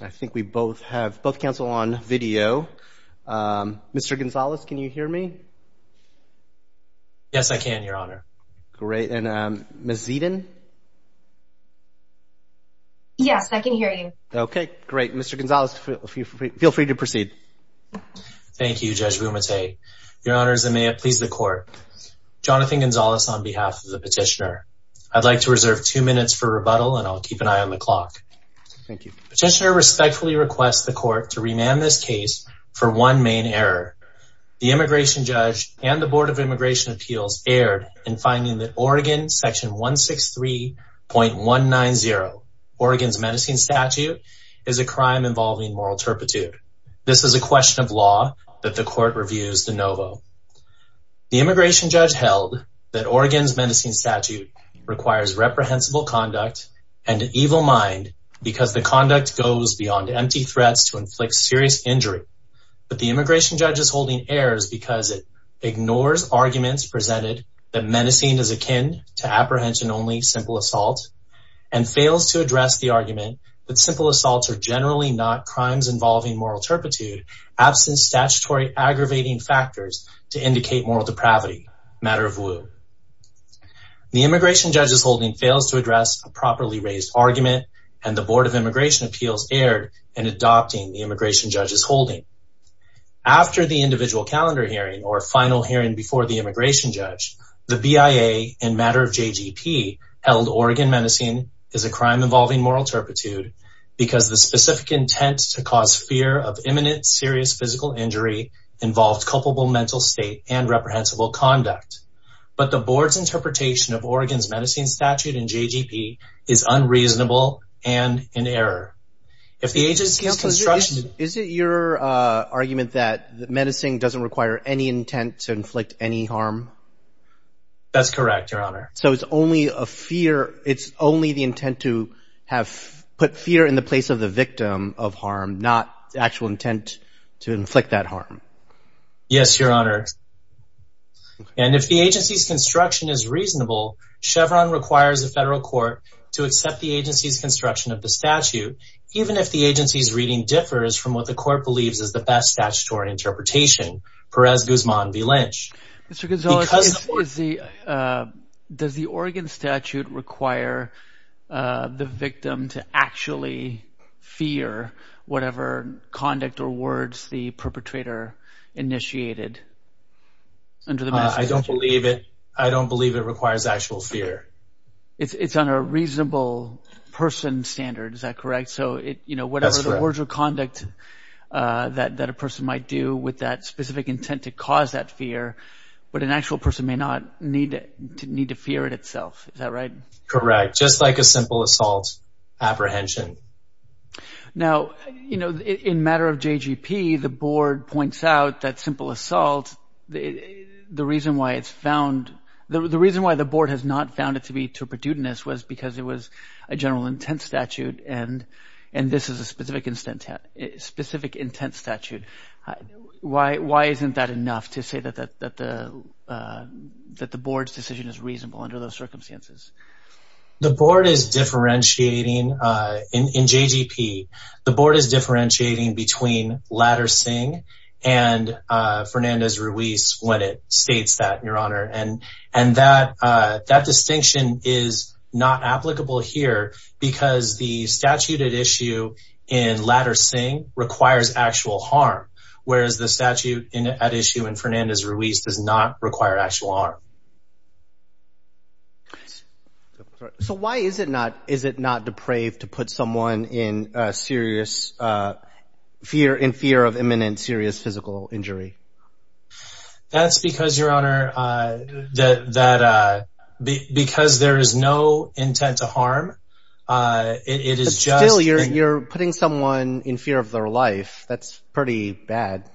I think we both have both cancel on video. Mr. Gonzales can you hear me? Yes I can your honor. Great and Ms. Zedon? Yes I can hear you. Okay great Mr. Gonzales feel free to proceed. Thank you Judge Bumate. Your honors I may please the court. Jonathan Gonzales on behalf of the petitioner I'd like to petitioner respectfully requests the court to remand this case for one main error. The immigration judge and the Board of Immigration Appeals erred in finding that Oregon section 163.190 Oregon's menacing statute is a crime involving moral turpitude. This is a question of law that the court reviews de novo. The immigration judge held that Oregon's menacing statute requires reprehensible conduct and an evil mind because the conduct goes beyond empty threats to inflict serious injury but the immigration judge's holding errors because it ignores arguments presented that menacing is akin to apprehension only simple assault and fails to address the argument that simple assaults are generally not crimes involving moral turpitude absent statutory aggravating factors to indicate moral depravity matter of woo. The immigration judge's holding fails to appeals erred in adopting the immigration judge's holding. After the individual calendar hearing or final hearing before the immigration judge the BIA in matter of JGP held Oregon menacing is a crime involving moral turpitude because the specific intent to cause fear of imminent serious physical injury involved culpable mental state and reprehensible conduct but the board's interpretation of Oregon's menacing statute in JGP is unreasonable and in error. If the agency's construction... Is it your argument that the menacing doesn't require any intent to inflict any harm? That's correct your honor. So it's only a fear it's only the intent to have put fear in the place of the victim of harm not the actual intent to inflict that harm? Yes your honor and if the agency's construction is reasonable Chevron requires a federal court to accept the agency's construction of the statute even if the agency's reading differs from what the court believes is the best statutory interpretation Perez Guzman v. Lynch. Mr. Gonzalez does the Oregon statute require the victim to actually fear whatever conduct or words the perpetrator initiated? I don't believe it. I don't believe it requires actual fear. It's on a reasonable person standard is that correct? So it you know whatever the words or conduct that that a person might do with that specific intent to cause that fear but an actual person may not need to need to fear it itself is that right? Correct just like a simple assault apprehension. Now you know in matter of JGP the board points out that simple assault the reason why it's found the reason why the board has not found it to be to a perdudeness was because it was a general intent statute and and this is a specific intent statute. Why isn't that enough to say that the board's decision is reasonable under those circumstances? The board is differentiating in JGP the board is Fernandez-Ruiz when it states that your honor and and that that distinction is not applicable here because the statute at issue in Latter-Singh requires actual harm whereas the statute at issue in Fernandez-Ruiz does not require actual harm. So why is it not is it not depraved to put someone in serious fear in fear of imminent serious physical injury? That's because your honor that that because there is no intent to harm it is just... Still you're putting someone in fear of their life that's pretty bad.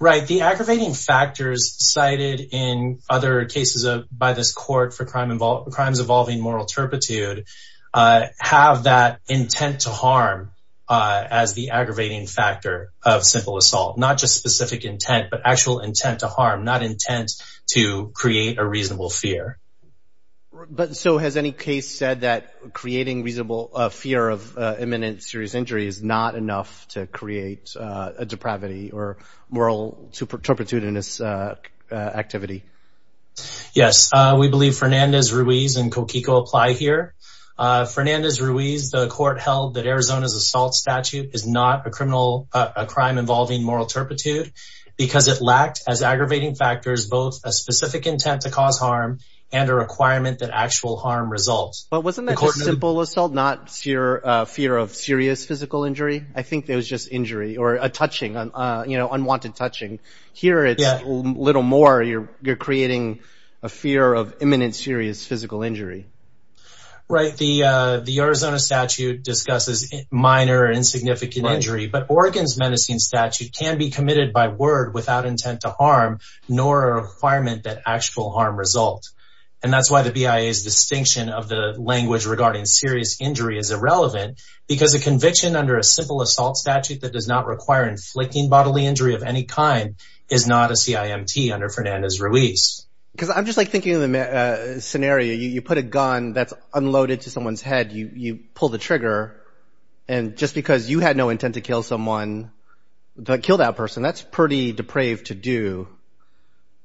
Right the aggravating factors cited in other cases of by this court for crime involved crimes involving moral turpitude have that intent to harm as the aggravating factor of simple assault not just specific intent but actual intent to harm not intent to create a reasonable fear. But so has any case said that creating reasonable fear of imminent serious injury is not enough to create a depravity or moral turpitude in this activity? Yes we believe Fernandez-Ruiz and Coquico apply here. Fernandez-Ruiz the court held that Arizona's assault statute is not a criminal a crime involving moral turpitude because it lacked as aggravating factors both a specific intent to cause harm and a requirement that actual harm results. But wasn't that a simple assault not fear fear of serious physical injury? I think there was just injury or a touching on you know unwanted touching. Here it's a little more you're creating a fear of imminent serious physical injury. Right the the Arizona statute discusses minor insignificant injury but Oregon's menacing statute can be committed by word without intent to harm nor a requirement that actual harm result. And that's why the BIA's distinction of the language regarding serious injury is irrelevant because a conviction under a simple assault statute that does not require inflicting bodily injury of any kind is not a CIMT under Fernandez-Ruiz. Because I'm just like thinking of the scenario you put a gun that's unloaded to someone's head you you pull the trigger and just because you had no intent to kill someone but kill that person that's pretty depraved to do.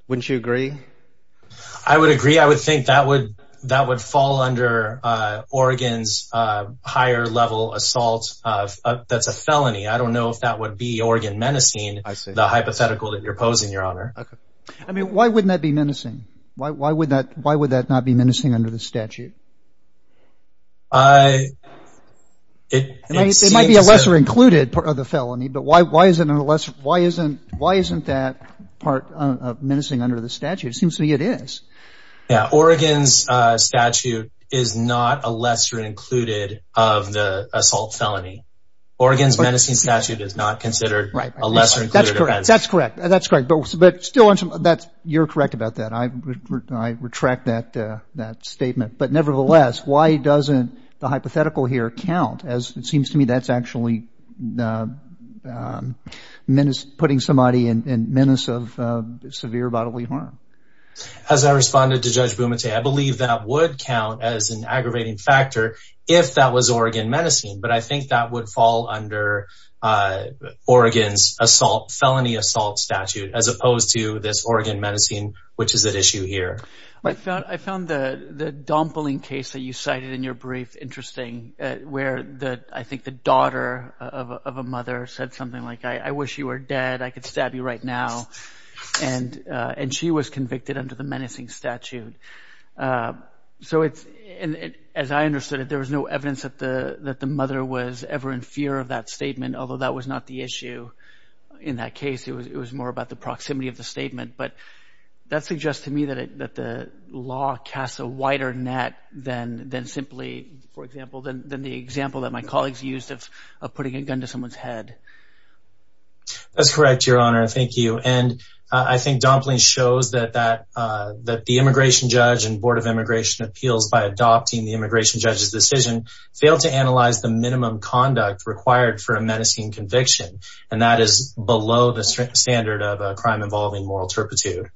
Wouldn't you agree? I would agree I would think that would that would fall under Oregon's higher-level assault of that's a hypothetical that you're posing your honor. I mean why wouldn't that be menacing? Why would that why would that not be menacing under the statute? It might be a lesser included part of the felony but why why isn't it a lesser why isn't why isn't that part of menacing under the statute? It seems to me it is. Yeah Oregon's statute is not a lesser included of the assault felony. Oregon's statute is not considered a lesser included offense. That's correct that's correct but still that's you're correct about that I retract that that statement but nevertheless why doesn't the hypothetical here count as it seems to me that's actually putting somebody in menace of severe bodily harm. As I responded to Judge Bumate I believe that would count as an aggravating factor if that was Oregon menacing but I think that would fall under Oregon's assault felony assault statute as opposed to this Oregon menacing which is at issue here. I found the the dompling case that you cited in your brief interesting where the I think the daughter of a mother said something like I wish you were dead I could stab you right now and and she was convicted under the menacing statute so it's as I understood it there was no evidence that the that the mother was ever in fear of that statement although that was not the issue in that case it was it was more about the proximity of the statement but that suggests to me that it that the law casts a wider net than then simply for example then the example that my colleagues used of putting a gun to someone's head. That's correct your honor thank you and I think dompling shows that that that the immigration judge and Board of Immigration Appeals by adopting the immigration judge's decision failed to analyze the minimum conduct required for a menacing conviction and that is below the standard of a crime involving moral turpitude.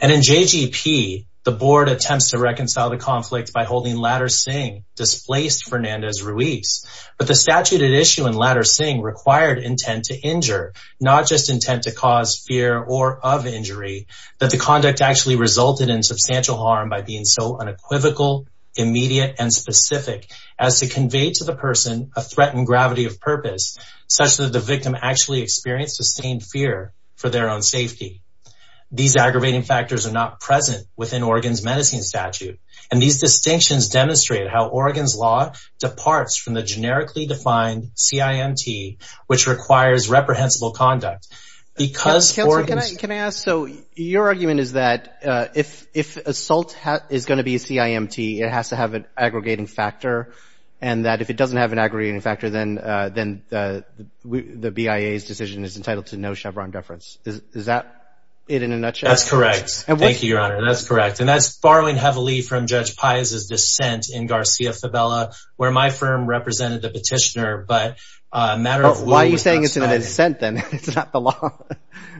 And in JGP the board attempts to reconcile the conflict by holding Ladder Singh displaced Fernandez Ruiz but the statute at issue in Ladder Singh required intent to injure not just intent to cause fear or of injury that the conduct actually resulted in substantial harm by being so unequivocal immediate and specific as to convey to the person a threatened gravity of purpose such that the victim actually experienced the same fear for their own safety. These aggravating factors are not present within Oregon's menacing statute and these distinctions demonstrate how Oregon's law departs from the generically defined CIMT which requires reprehensible conduct. Because can I ask so your argument is that if if assault is going to be a CIMT it has to have an aggregating factor and that if it doesn't have an aggregating factor then then the BIA's decision is entitled to no Chevron deference. Is that it in a nutshell? That's correct and thank you your honor that's correct and that's borrowing heavily from Judge Paez's dissent in Garcia-Favela where my firm represented the petitioner but a matter why are you saying it's in a dissent then? It's not the law.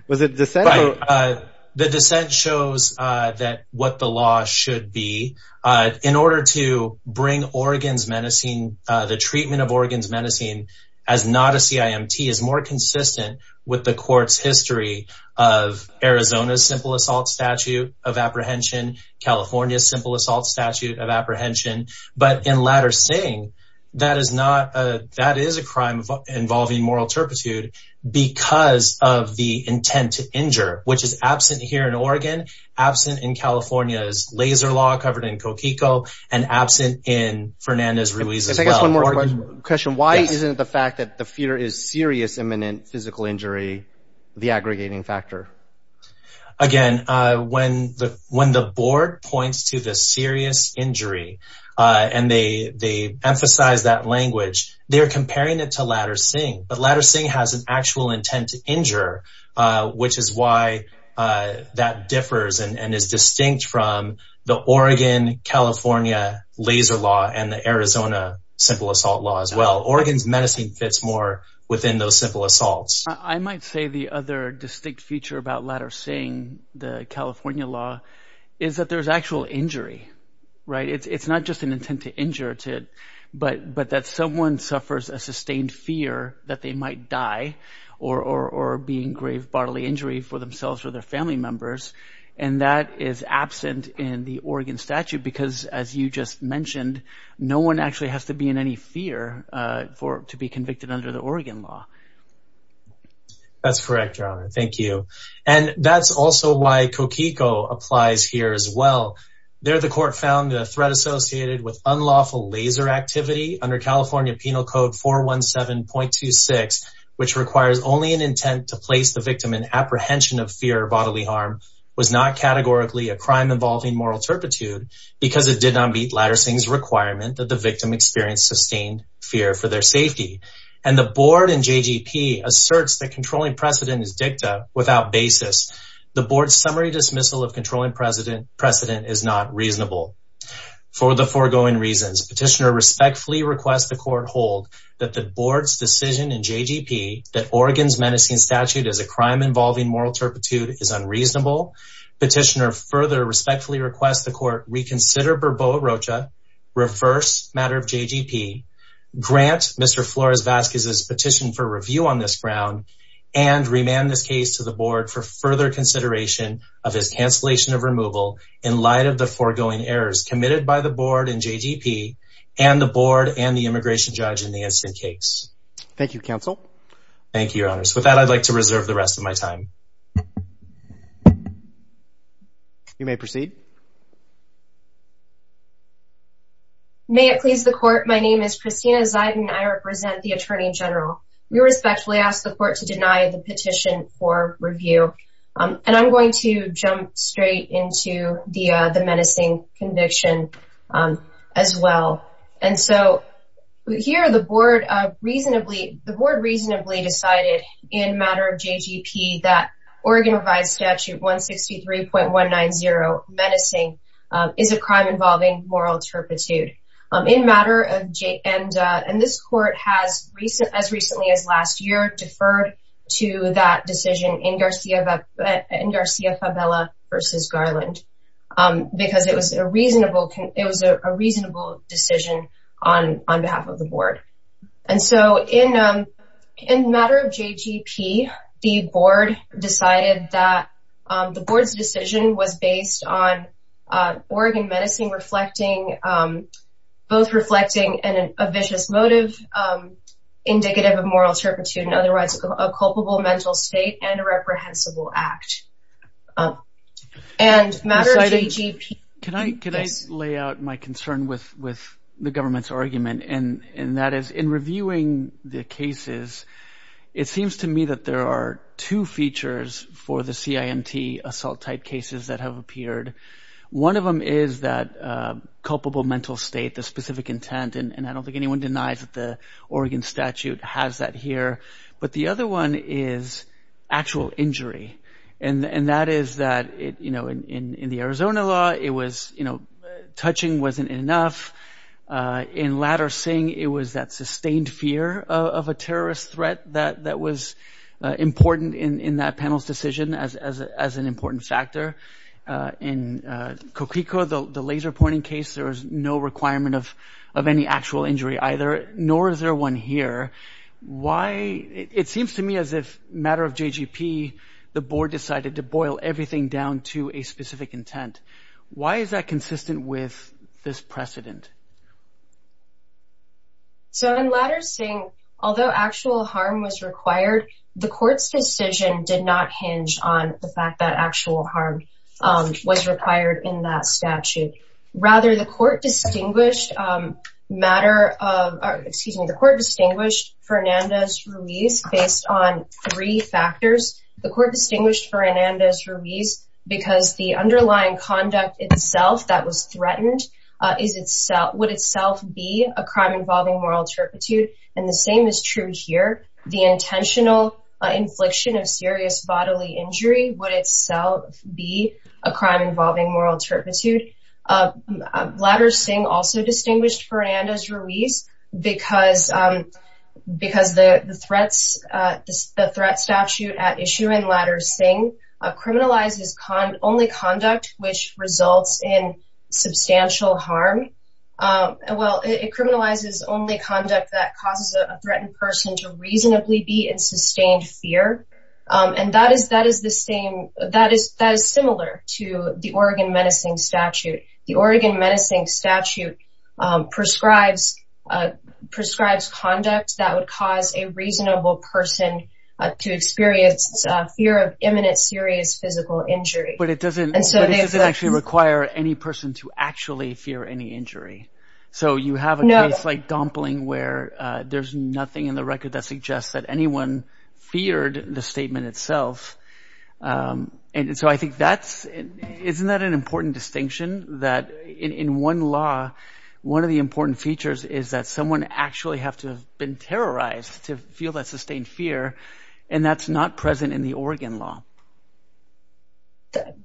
Was it dissent? The dissent shows that what the law should be in order to bring Oregon's menacing the treatment of Oregon's menacing as not a CIMT is more consistent with the court's history of Arizona's simple assault statute of apprehension California's simple assault statute of apprehension but in latter saying that is not a that is a crime involving moral turpitude because of the intent to injure which is absent here in Oregon absent in California's laser law covered in Coquico and absent in Fernandez-Ruiz as well. Question why isn't the fact that the fear is serious imminent physical injury the aggregating factor? Again when the when the board points to the serious injury and they they emphasize that language they are comparing it to Latter-Singh but Latter-Singh has an actual intent to injure which is why that differs and is distinct from the Oregon California laser law and the Arizona simple assault law as well. Oregon's menacing fits more within those simple assaults. I might say the other distinct feature about Latter-Singh the California law is that there's actual injury right it's it's not just an intent to injure to it but but that someone suffers a sustained fear that they might die or or or being grave bodily injury for themselves or their family members and that is absent in the Oregon statute because as you just mentioned no one actually has to be in any fear for to be convicted under the Oregon law. That's correct your honor thank you and that's also why Coquico applies here as well there the court found the threat associated with unlawful laser activity under California Penal Code 417.26 which requires only an intent to place the victim in apprehension of fear bodily harm was not categorically a crime involving moral turpitude because it did not meet Latter-Singh's requirement that the victim suffer a sustained fear for their safety and the board and JGP asserts that controlling precedent is dicta without basis the board summary dismissal of controlling precedent precedent is not reasonable for the foregoing reasons petitioner respectfully requests the court hold that the board's decision in JGP that Oregon's menacing statute as a crime involving moral turpitude is unreasonable petitioner further respectfully request the court reconsider Burbo Rocha reverse matter of JGP grant Mr. Flores-Vazquez's petition for review on this ground and remand this case to the board for further consideration of his cancellation of removal in light of the foregoing errors committed by the board and JGP and the board and the immigration judge in the incident case. Thank you counsel. Thank you. May it please the court my name is Christina Ziden I represent the Attorney General we respectfully ask the court to deny the petition for review and I'm going to jump straight into the the menacing conviction as well and so here the board of reasonably the board reasonably decided in matter of JGP that Oregon revised statute 163.190 menacing is a crime involving moral turpitude in matter of J and and this court has recent as recently as last year deferred to that decision in Garcia in Garcia favela versus Garland because it was a reasonable it was a reasonable decision on on behalf of the board and so in in matter of JGP the board decided that the board's decision was based on Oregon menacing reflecting both reflecting and a vicious motive indicative of moral turpitude and otherwise a culpable mental state and a reprehensible act and matter of JGP. Can I lay out my concern with with the government's it seems to me that there are two features for the CIMT assault type cases that have appeared one of them is that culpable mental state the specific intent and I don't think anyone denies that the Oregon statute has that here but the other one is actual injury and and that is that it you know in in in the Arizona law it was you know touching wasn't enough in Ladder Singh it was that sustained fear of a terrorist threat that that was important in in that panel's decision as as an important factor in Coquico the laser pointing case there is no requirement of of any actual injury either nor is there one here why it seems to me as if matter of JGP the board decided to boil everything down to a specific intent why is that consistent with this precedent? So in Ladder Singh although actual harm was required the court's decision did not hinge on the fact that actual harm was required in that statute rather the court distinguished matter of excuse me the court distinguished Fernandez-Ruiz based on three factors the court distinguished Fernandez-Ruiz because the underlying conduct itself that was threatened is itself would itself be a crime involving moral turpitude and the same is true here the intentional infliction of serious bodily injury would itself be a crime involving moral turpitude. Ladder Singh also distinguished Fernandez-Ruiz because because the threats the threat statute at issue in Ladder Singh criminalizes only conduct which results in substantial harm well it criminalizes only conduct that causes a threatened person to reasonably be in sustained fear and that is that is the same that is that is similar to the Oregon menacing statute the Oregon menacing statute prescribes prescribes conduct that would cause a reasonable person to experience fear of imminent serious physical injury. But it doesn't actually require any person to actually fear any and so I think that's isn't that an important distinction that in one law one of the important features is that someone actually have to have been terrorized to feel that sustained fear and that's not present in the Oregon law.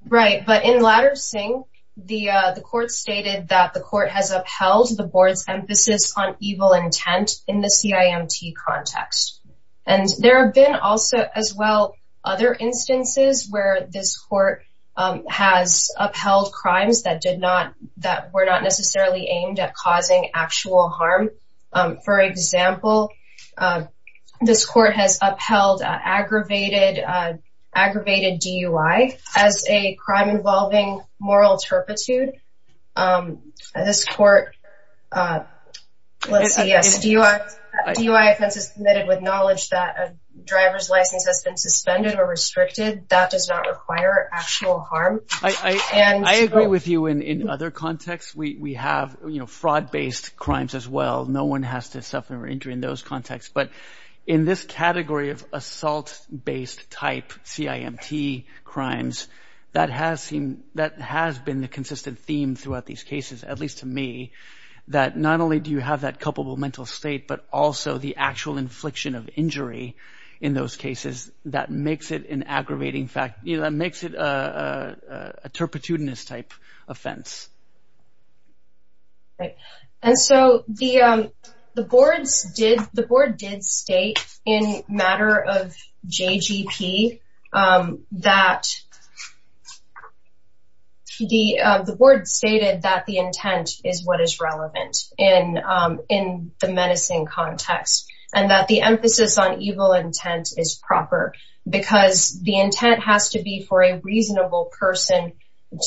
Right but in Ladder Singh the court stated that the court has upheld the evil intent in the CIMT context and there have been also as well other instances where this court has upheld crimes that did not that were not necessarily aimed at causing actual harm for example this court has upheld aggravated DUI as a crime involving moral turpitude this court let's see yes DUI offense is committed with knowledge that a driver's license has been suspended or restricted that does not require actual harm. I agree with you in in other contexts we have you know fraud based crimes as well no one has to assault based type CIMT crimes that has seen that has been the consistent theme throughout these cases at least to me that not only do you have that culpable mental state but also the actual infliction of injury in those cases that makes it an aggravating fact that makes it a turpitudinous type offense and so the boards did the board did state in matter of JGP that the the board stated that the intent is what is relevant in in the menacing context and that the emphasis on evil intent is proper because the intent has to be for a reasonable person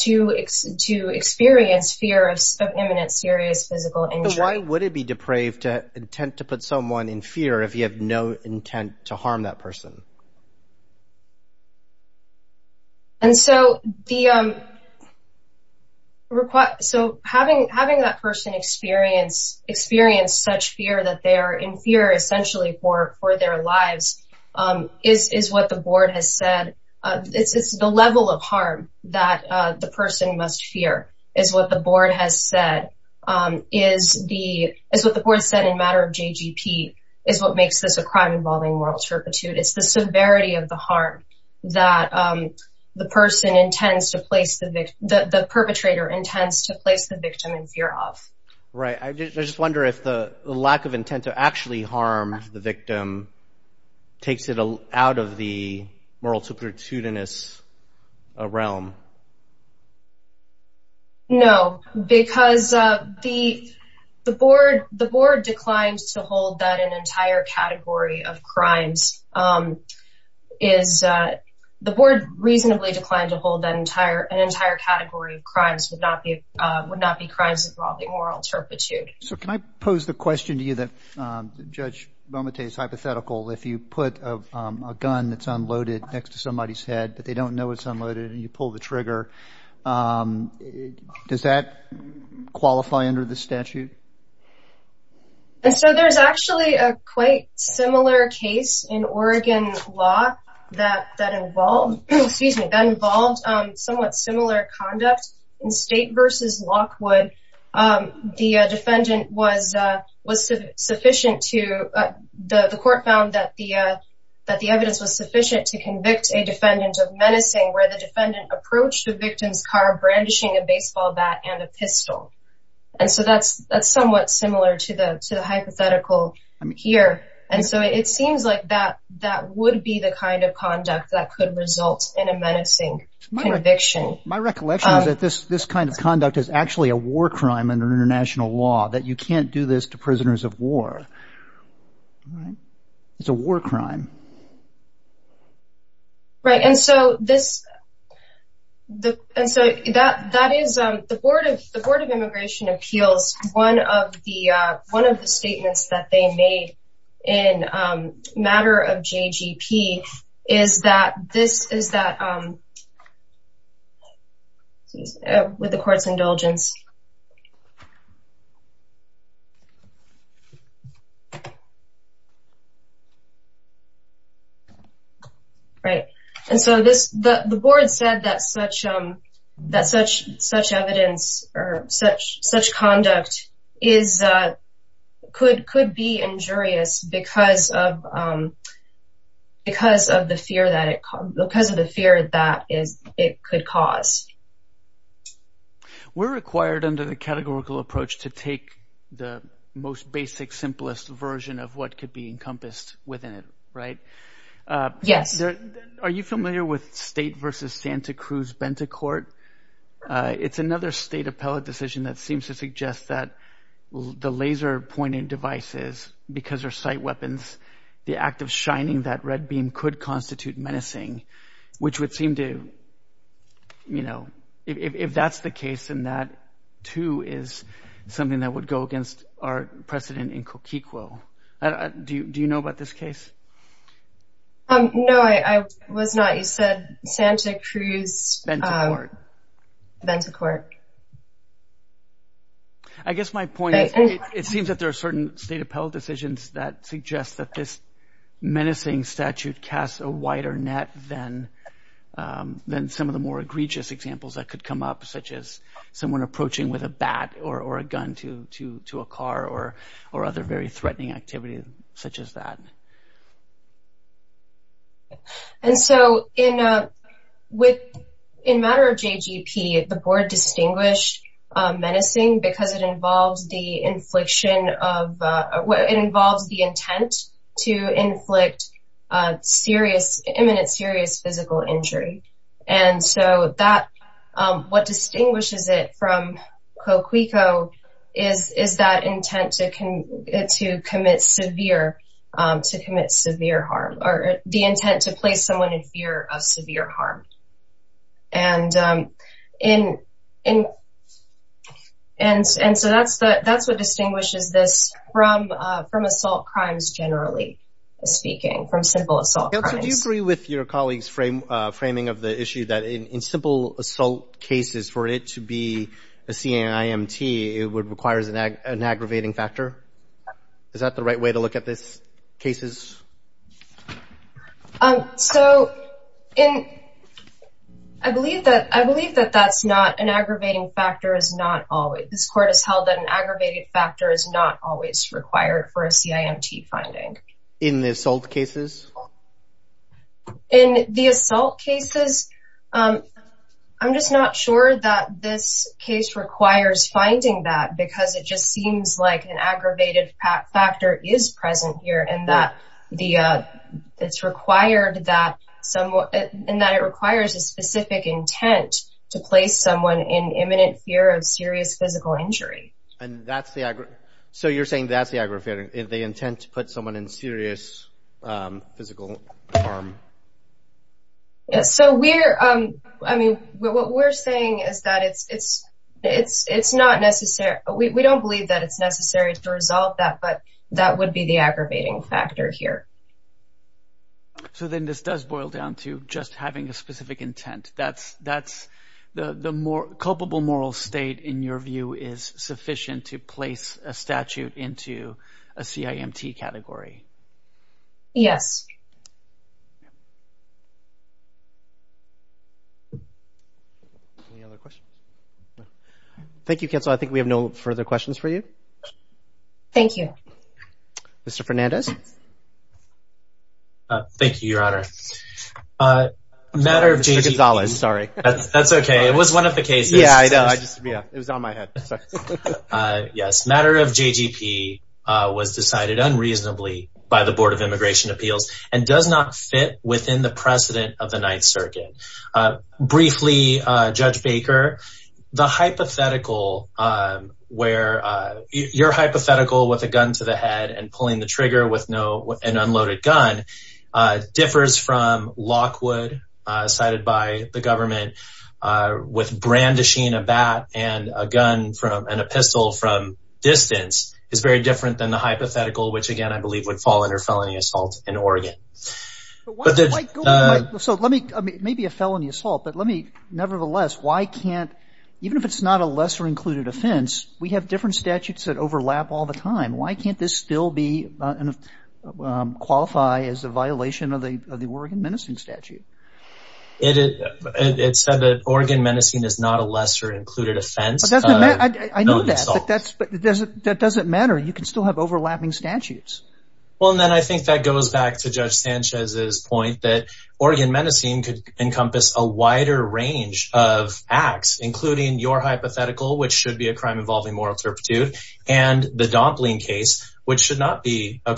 to experience fear of imminent serious physical injury. Why would it be depraved to intent to put someone in fear if you have no intent to harm that person? And so the request so having having that person experience experience such fear that they are in fear essentially for for their lives is is what the board has said this is the level of harm that the person must fear is what the board has said is the is what the board said in matter of JGP is what makes this a crime involving moral turpitude. It's the severity of the harm that the person intends to place the victim the perpetrator intends to place the victim in fear of. Right I just wonder if the lack of intent to actually harm the victim takes it out of the moral turpitudinous realm. No because the the board the board declined to hold that an entire category of crimes is the board reasonably declined to hold that entire an entire category of crimes would not be would not be crimes involving moral turpitude. So can I pose the question to you that Judge Momotai's hypothetical if you put a gun that's unloaded next to somebody's head but they don't know it's unloaded and you pull the trigger does that qualify under the statute? And so there's actually a quite similar case in Oregon law that that involved excuse me that involved somewhat similar conduct in that the defendant was sufficient to the court found that the evidence was sufficient to convict a defendant of menacing where the defendant approached the victim's car brandishing a baseball bat and a pistol and so that's that's somewhat similar to the hypothetical here and so it seems like that that would be the kind of conduct that could result in a menacing conviction. My recollection is that this this kind of conduct is actually a war crime in international law that you can't do this to prisoners of war. It's a war crime. Right and so this the and so that that is the Board of Immigration Appeals one of the one of the statements that they made in matter of JGP is that this is that with the court's indulgence right and so this the board said that such that such such evidence or such such conduct is could could be injurious because of because of the fear that it because of the fear that is it could cause. We're required under the categorical approach to take the most basic simplest version of what could be encompassed within it right? Yes. Are you familiar with state versus Santa Cruz Benta court? It's another state appellate decision that seems to suggest that the laser pointing devices because they're sight weapons the act of shining that red beam could constitute menacing which would seem to you know if that's the case and that too is something that would go against our precedent in Coquicuo. Do you do you know about this case? No I was not. You said Santa Cruz Benta court. I guess my point is it seems that there are certain state decisions that suggest that this menacing statute casts a wider net than then some of the more egregious examples that could come up such as someone approaching with a bat or or a gun to to to a car or or other very threatening activity such as that. And so in with in matter of JGP the board distinguished menacing because it involves the infliction of what involves the intent to inflict serious imminent serious physical injury. And so that what distinguishes it from Coquicuo is is that intent to commit severe to commit severe harm or the intent to place someone in fear of severe harm. And in in and and so that's the that's what distinguishes this from from assault crimes generally speaking from simple assault. Do you agree with your colleagues frame framing of the issue that in simple assault cases for it to be a CIMT it would requires an aggravating factor? Is that the right way to look at this cases? So in I believe that I believe that that's not an aggravating factor is not always this court has held that an aggravated factor is not always required for a CIMT finding. In the assault cases? In the assault cases I'm just not sure that this case requires finding that because it just seems like an aggravated factor is present here and that the it's required that somewhat and that it requires a specific intent to place someone in imminent fear of serious physical injury. And that's the aggro so you're saying that's the aggravating if they intend to put someone in serious physical harm? Yes so we're I mean what we're saying is that it's it's it's it's not necessary we don't believe that it's necessary to resolve that but that would be the aggravating factor here. So then this does boil down to just having a specific intent that's that's the the more culpable moral state in your view is sufficient to place a statute into a CIMT category? Yes. Thank you counsel I think we have no further questions for you. Thank you. Mr. Fernandez. Thank you your honor. Matter of JGP. Mr. Gonzalez sorry. That's okay it was one of the cases. Yeah I know I just yeah it was on my head. Yes matter of JGP was decided unreasonably by the Board of Immigration Appeals and does not fit within the precedent of the Ninth Circuit. Briefly Judge Baker the hypothetical where your hypothetical with a gun to the head and pulling the trigger with no an unloaded gun differs from Lockwood cited by the government with brandishing a bat and a gun from and a pistol from distance is very different than the hypothetical which again I believe would fall under felony assault in Oregon. So let me maybe a felony assault but let me nevertheless why can't even if it's not a lesser included offense we have different statutes that overlap all the time why can't this still be and qualify as a Oregon menacing statute. It said that Oregon menacing is not a lesser included offense. That doesn't matter you can still have overlapping statutes. Well and then I think that goes back to Judge Sanchez's point that Oregon menacing could encompass a wider range of acts including your hypothetical which should be a crime involving moral turpitude and the Dompling case which should not be a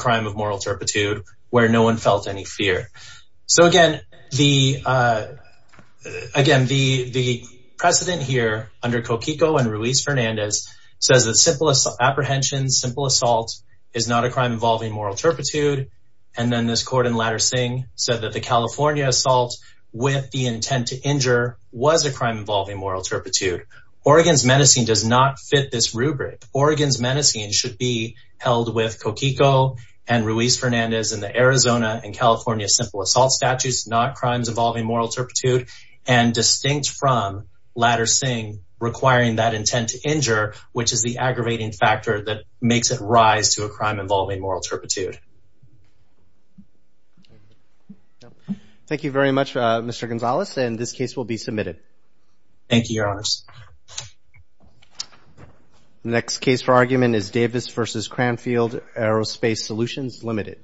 So again the again the the precedent here under Kokiko and Ruiz Fernandez says that simple apprehension simple assault is not a crime involving moral turpitude and then this court in Latter-Singh said that the California assault with the intent to injure was a crime involving moral turpitude. Oregon's menacing does not fit this rubric. Oregon's menacing should be held with assault statutes not crimes involving moral turpitude and distinct from Latter-Singh requiring that intent to injure which is the aggravating factor that makes it rise to a crime involving moral turpitude. Thank you very much Mr. Gonzalez and this case will be submitted. Thank you your honors. Next case for argument is Davis versus Cranfield aerospace solutions limited.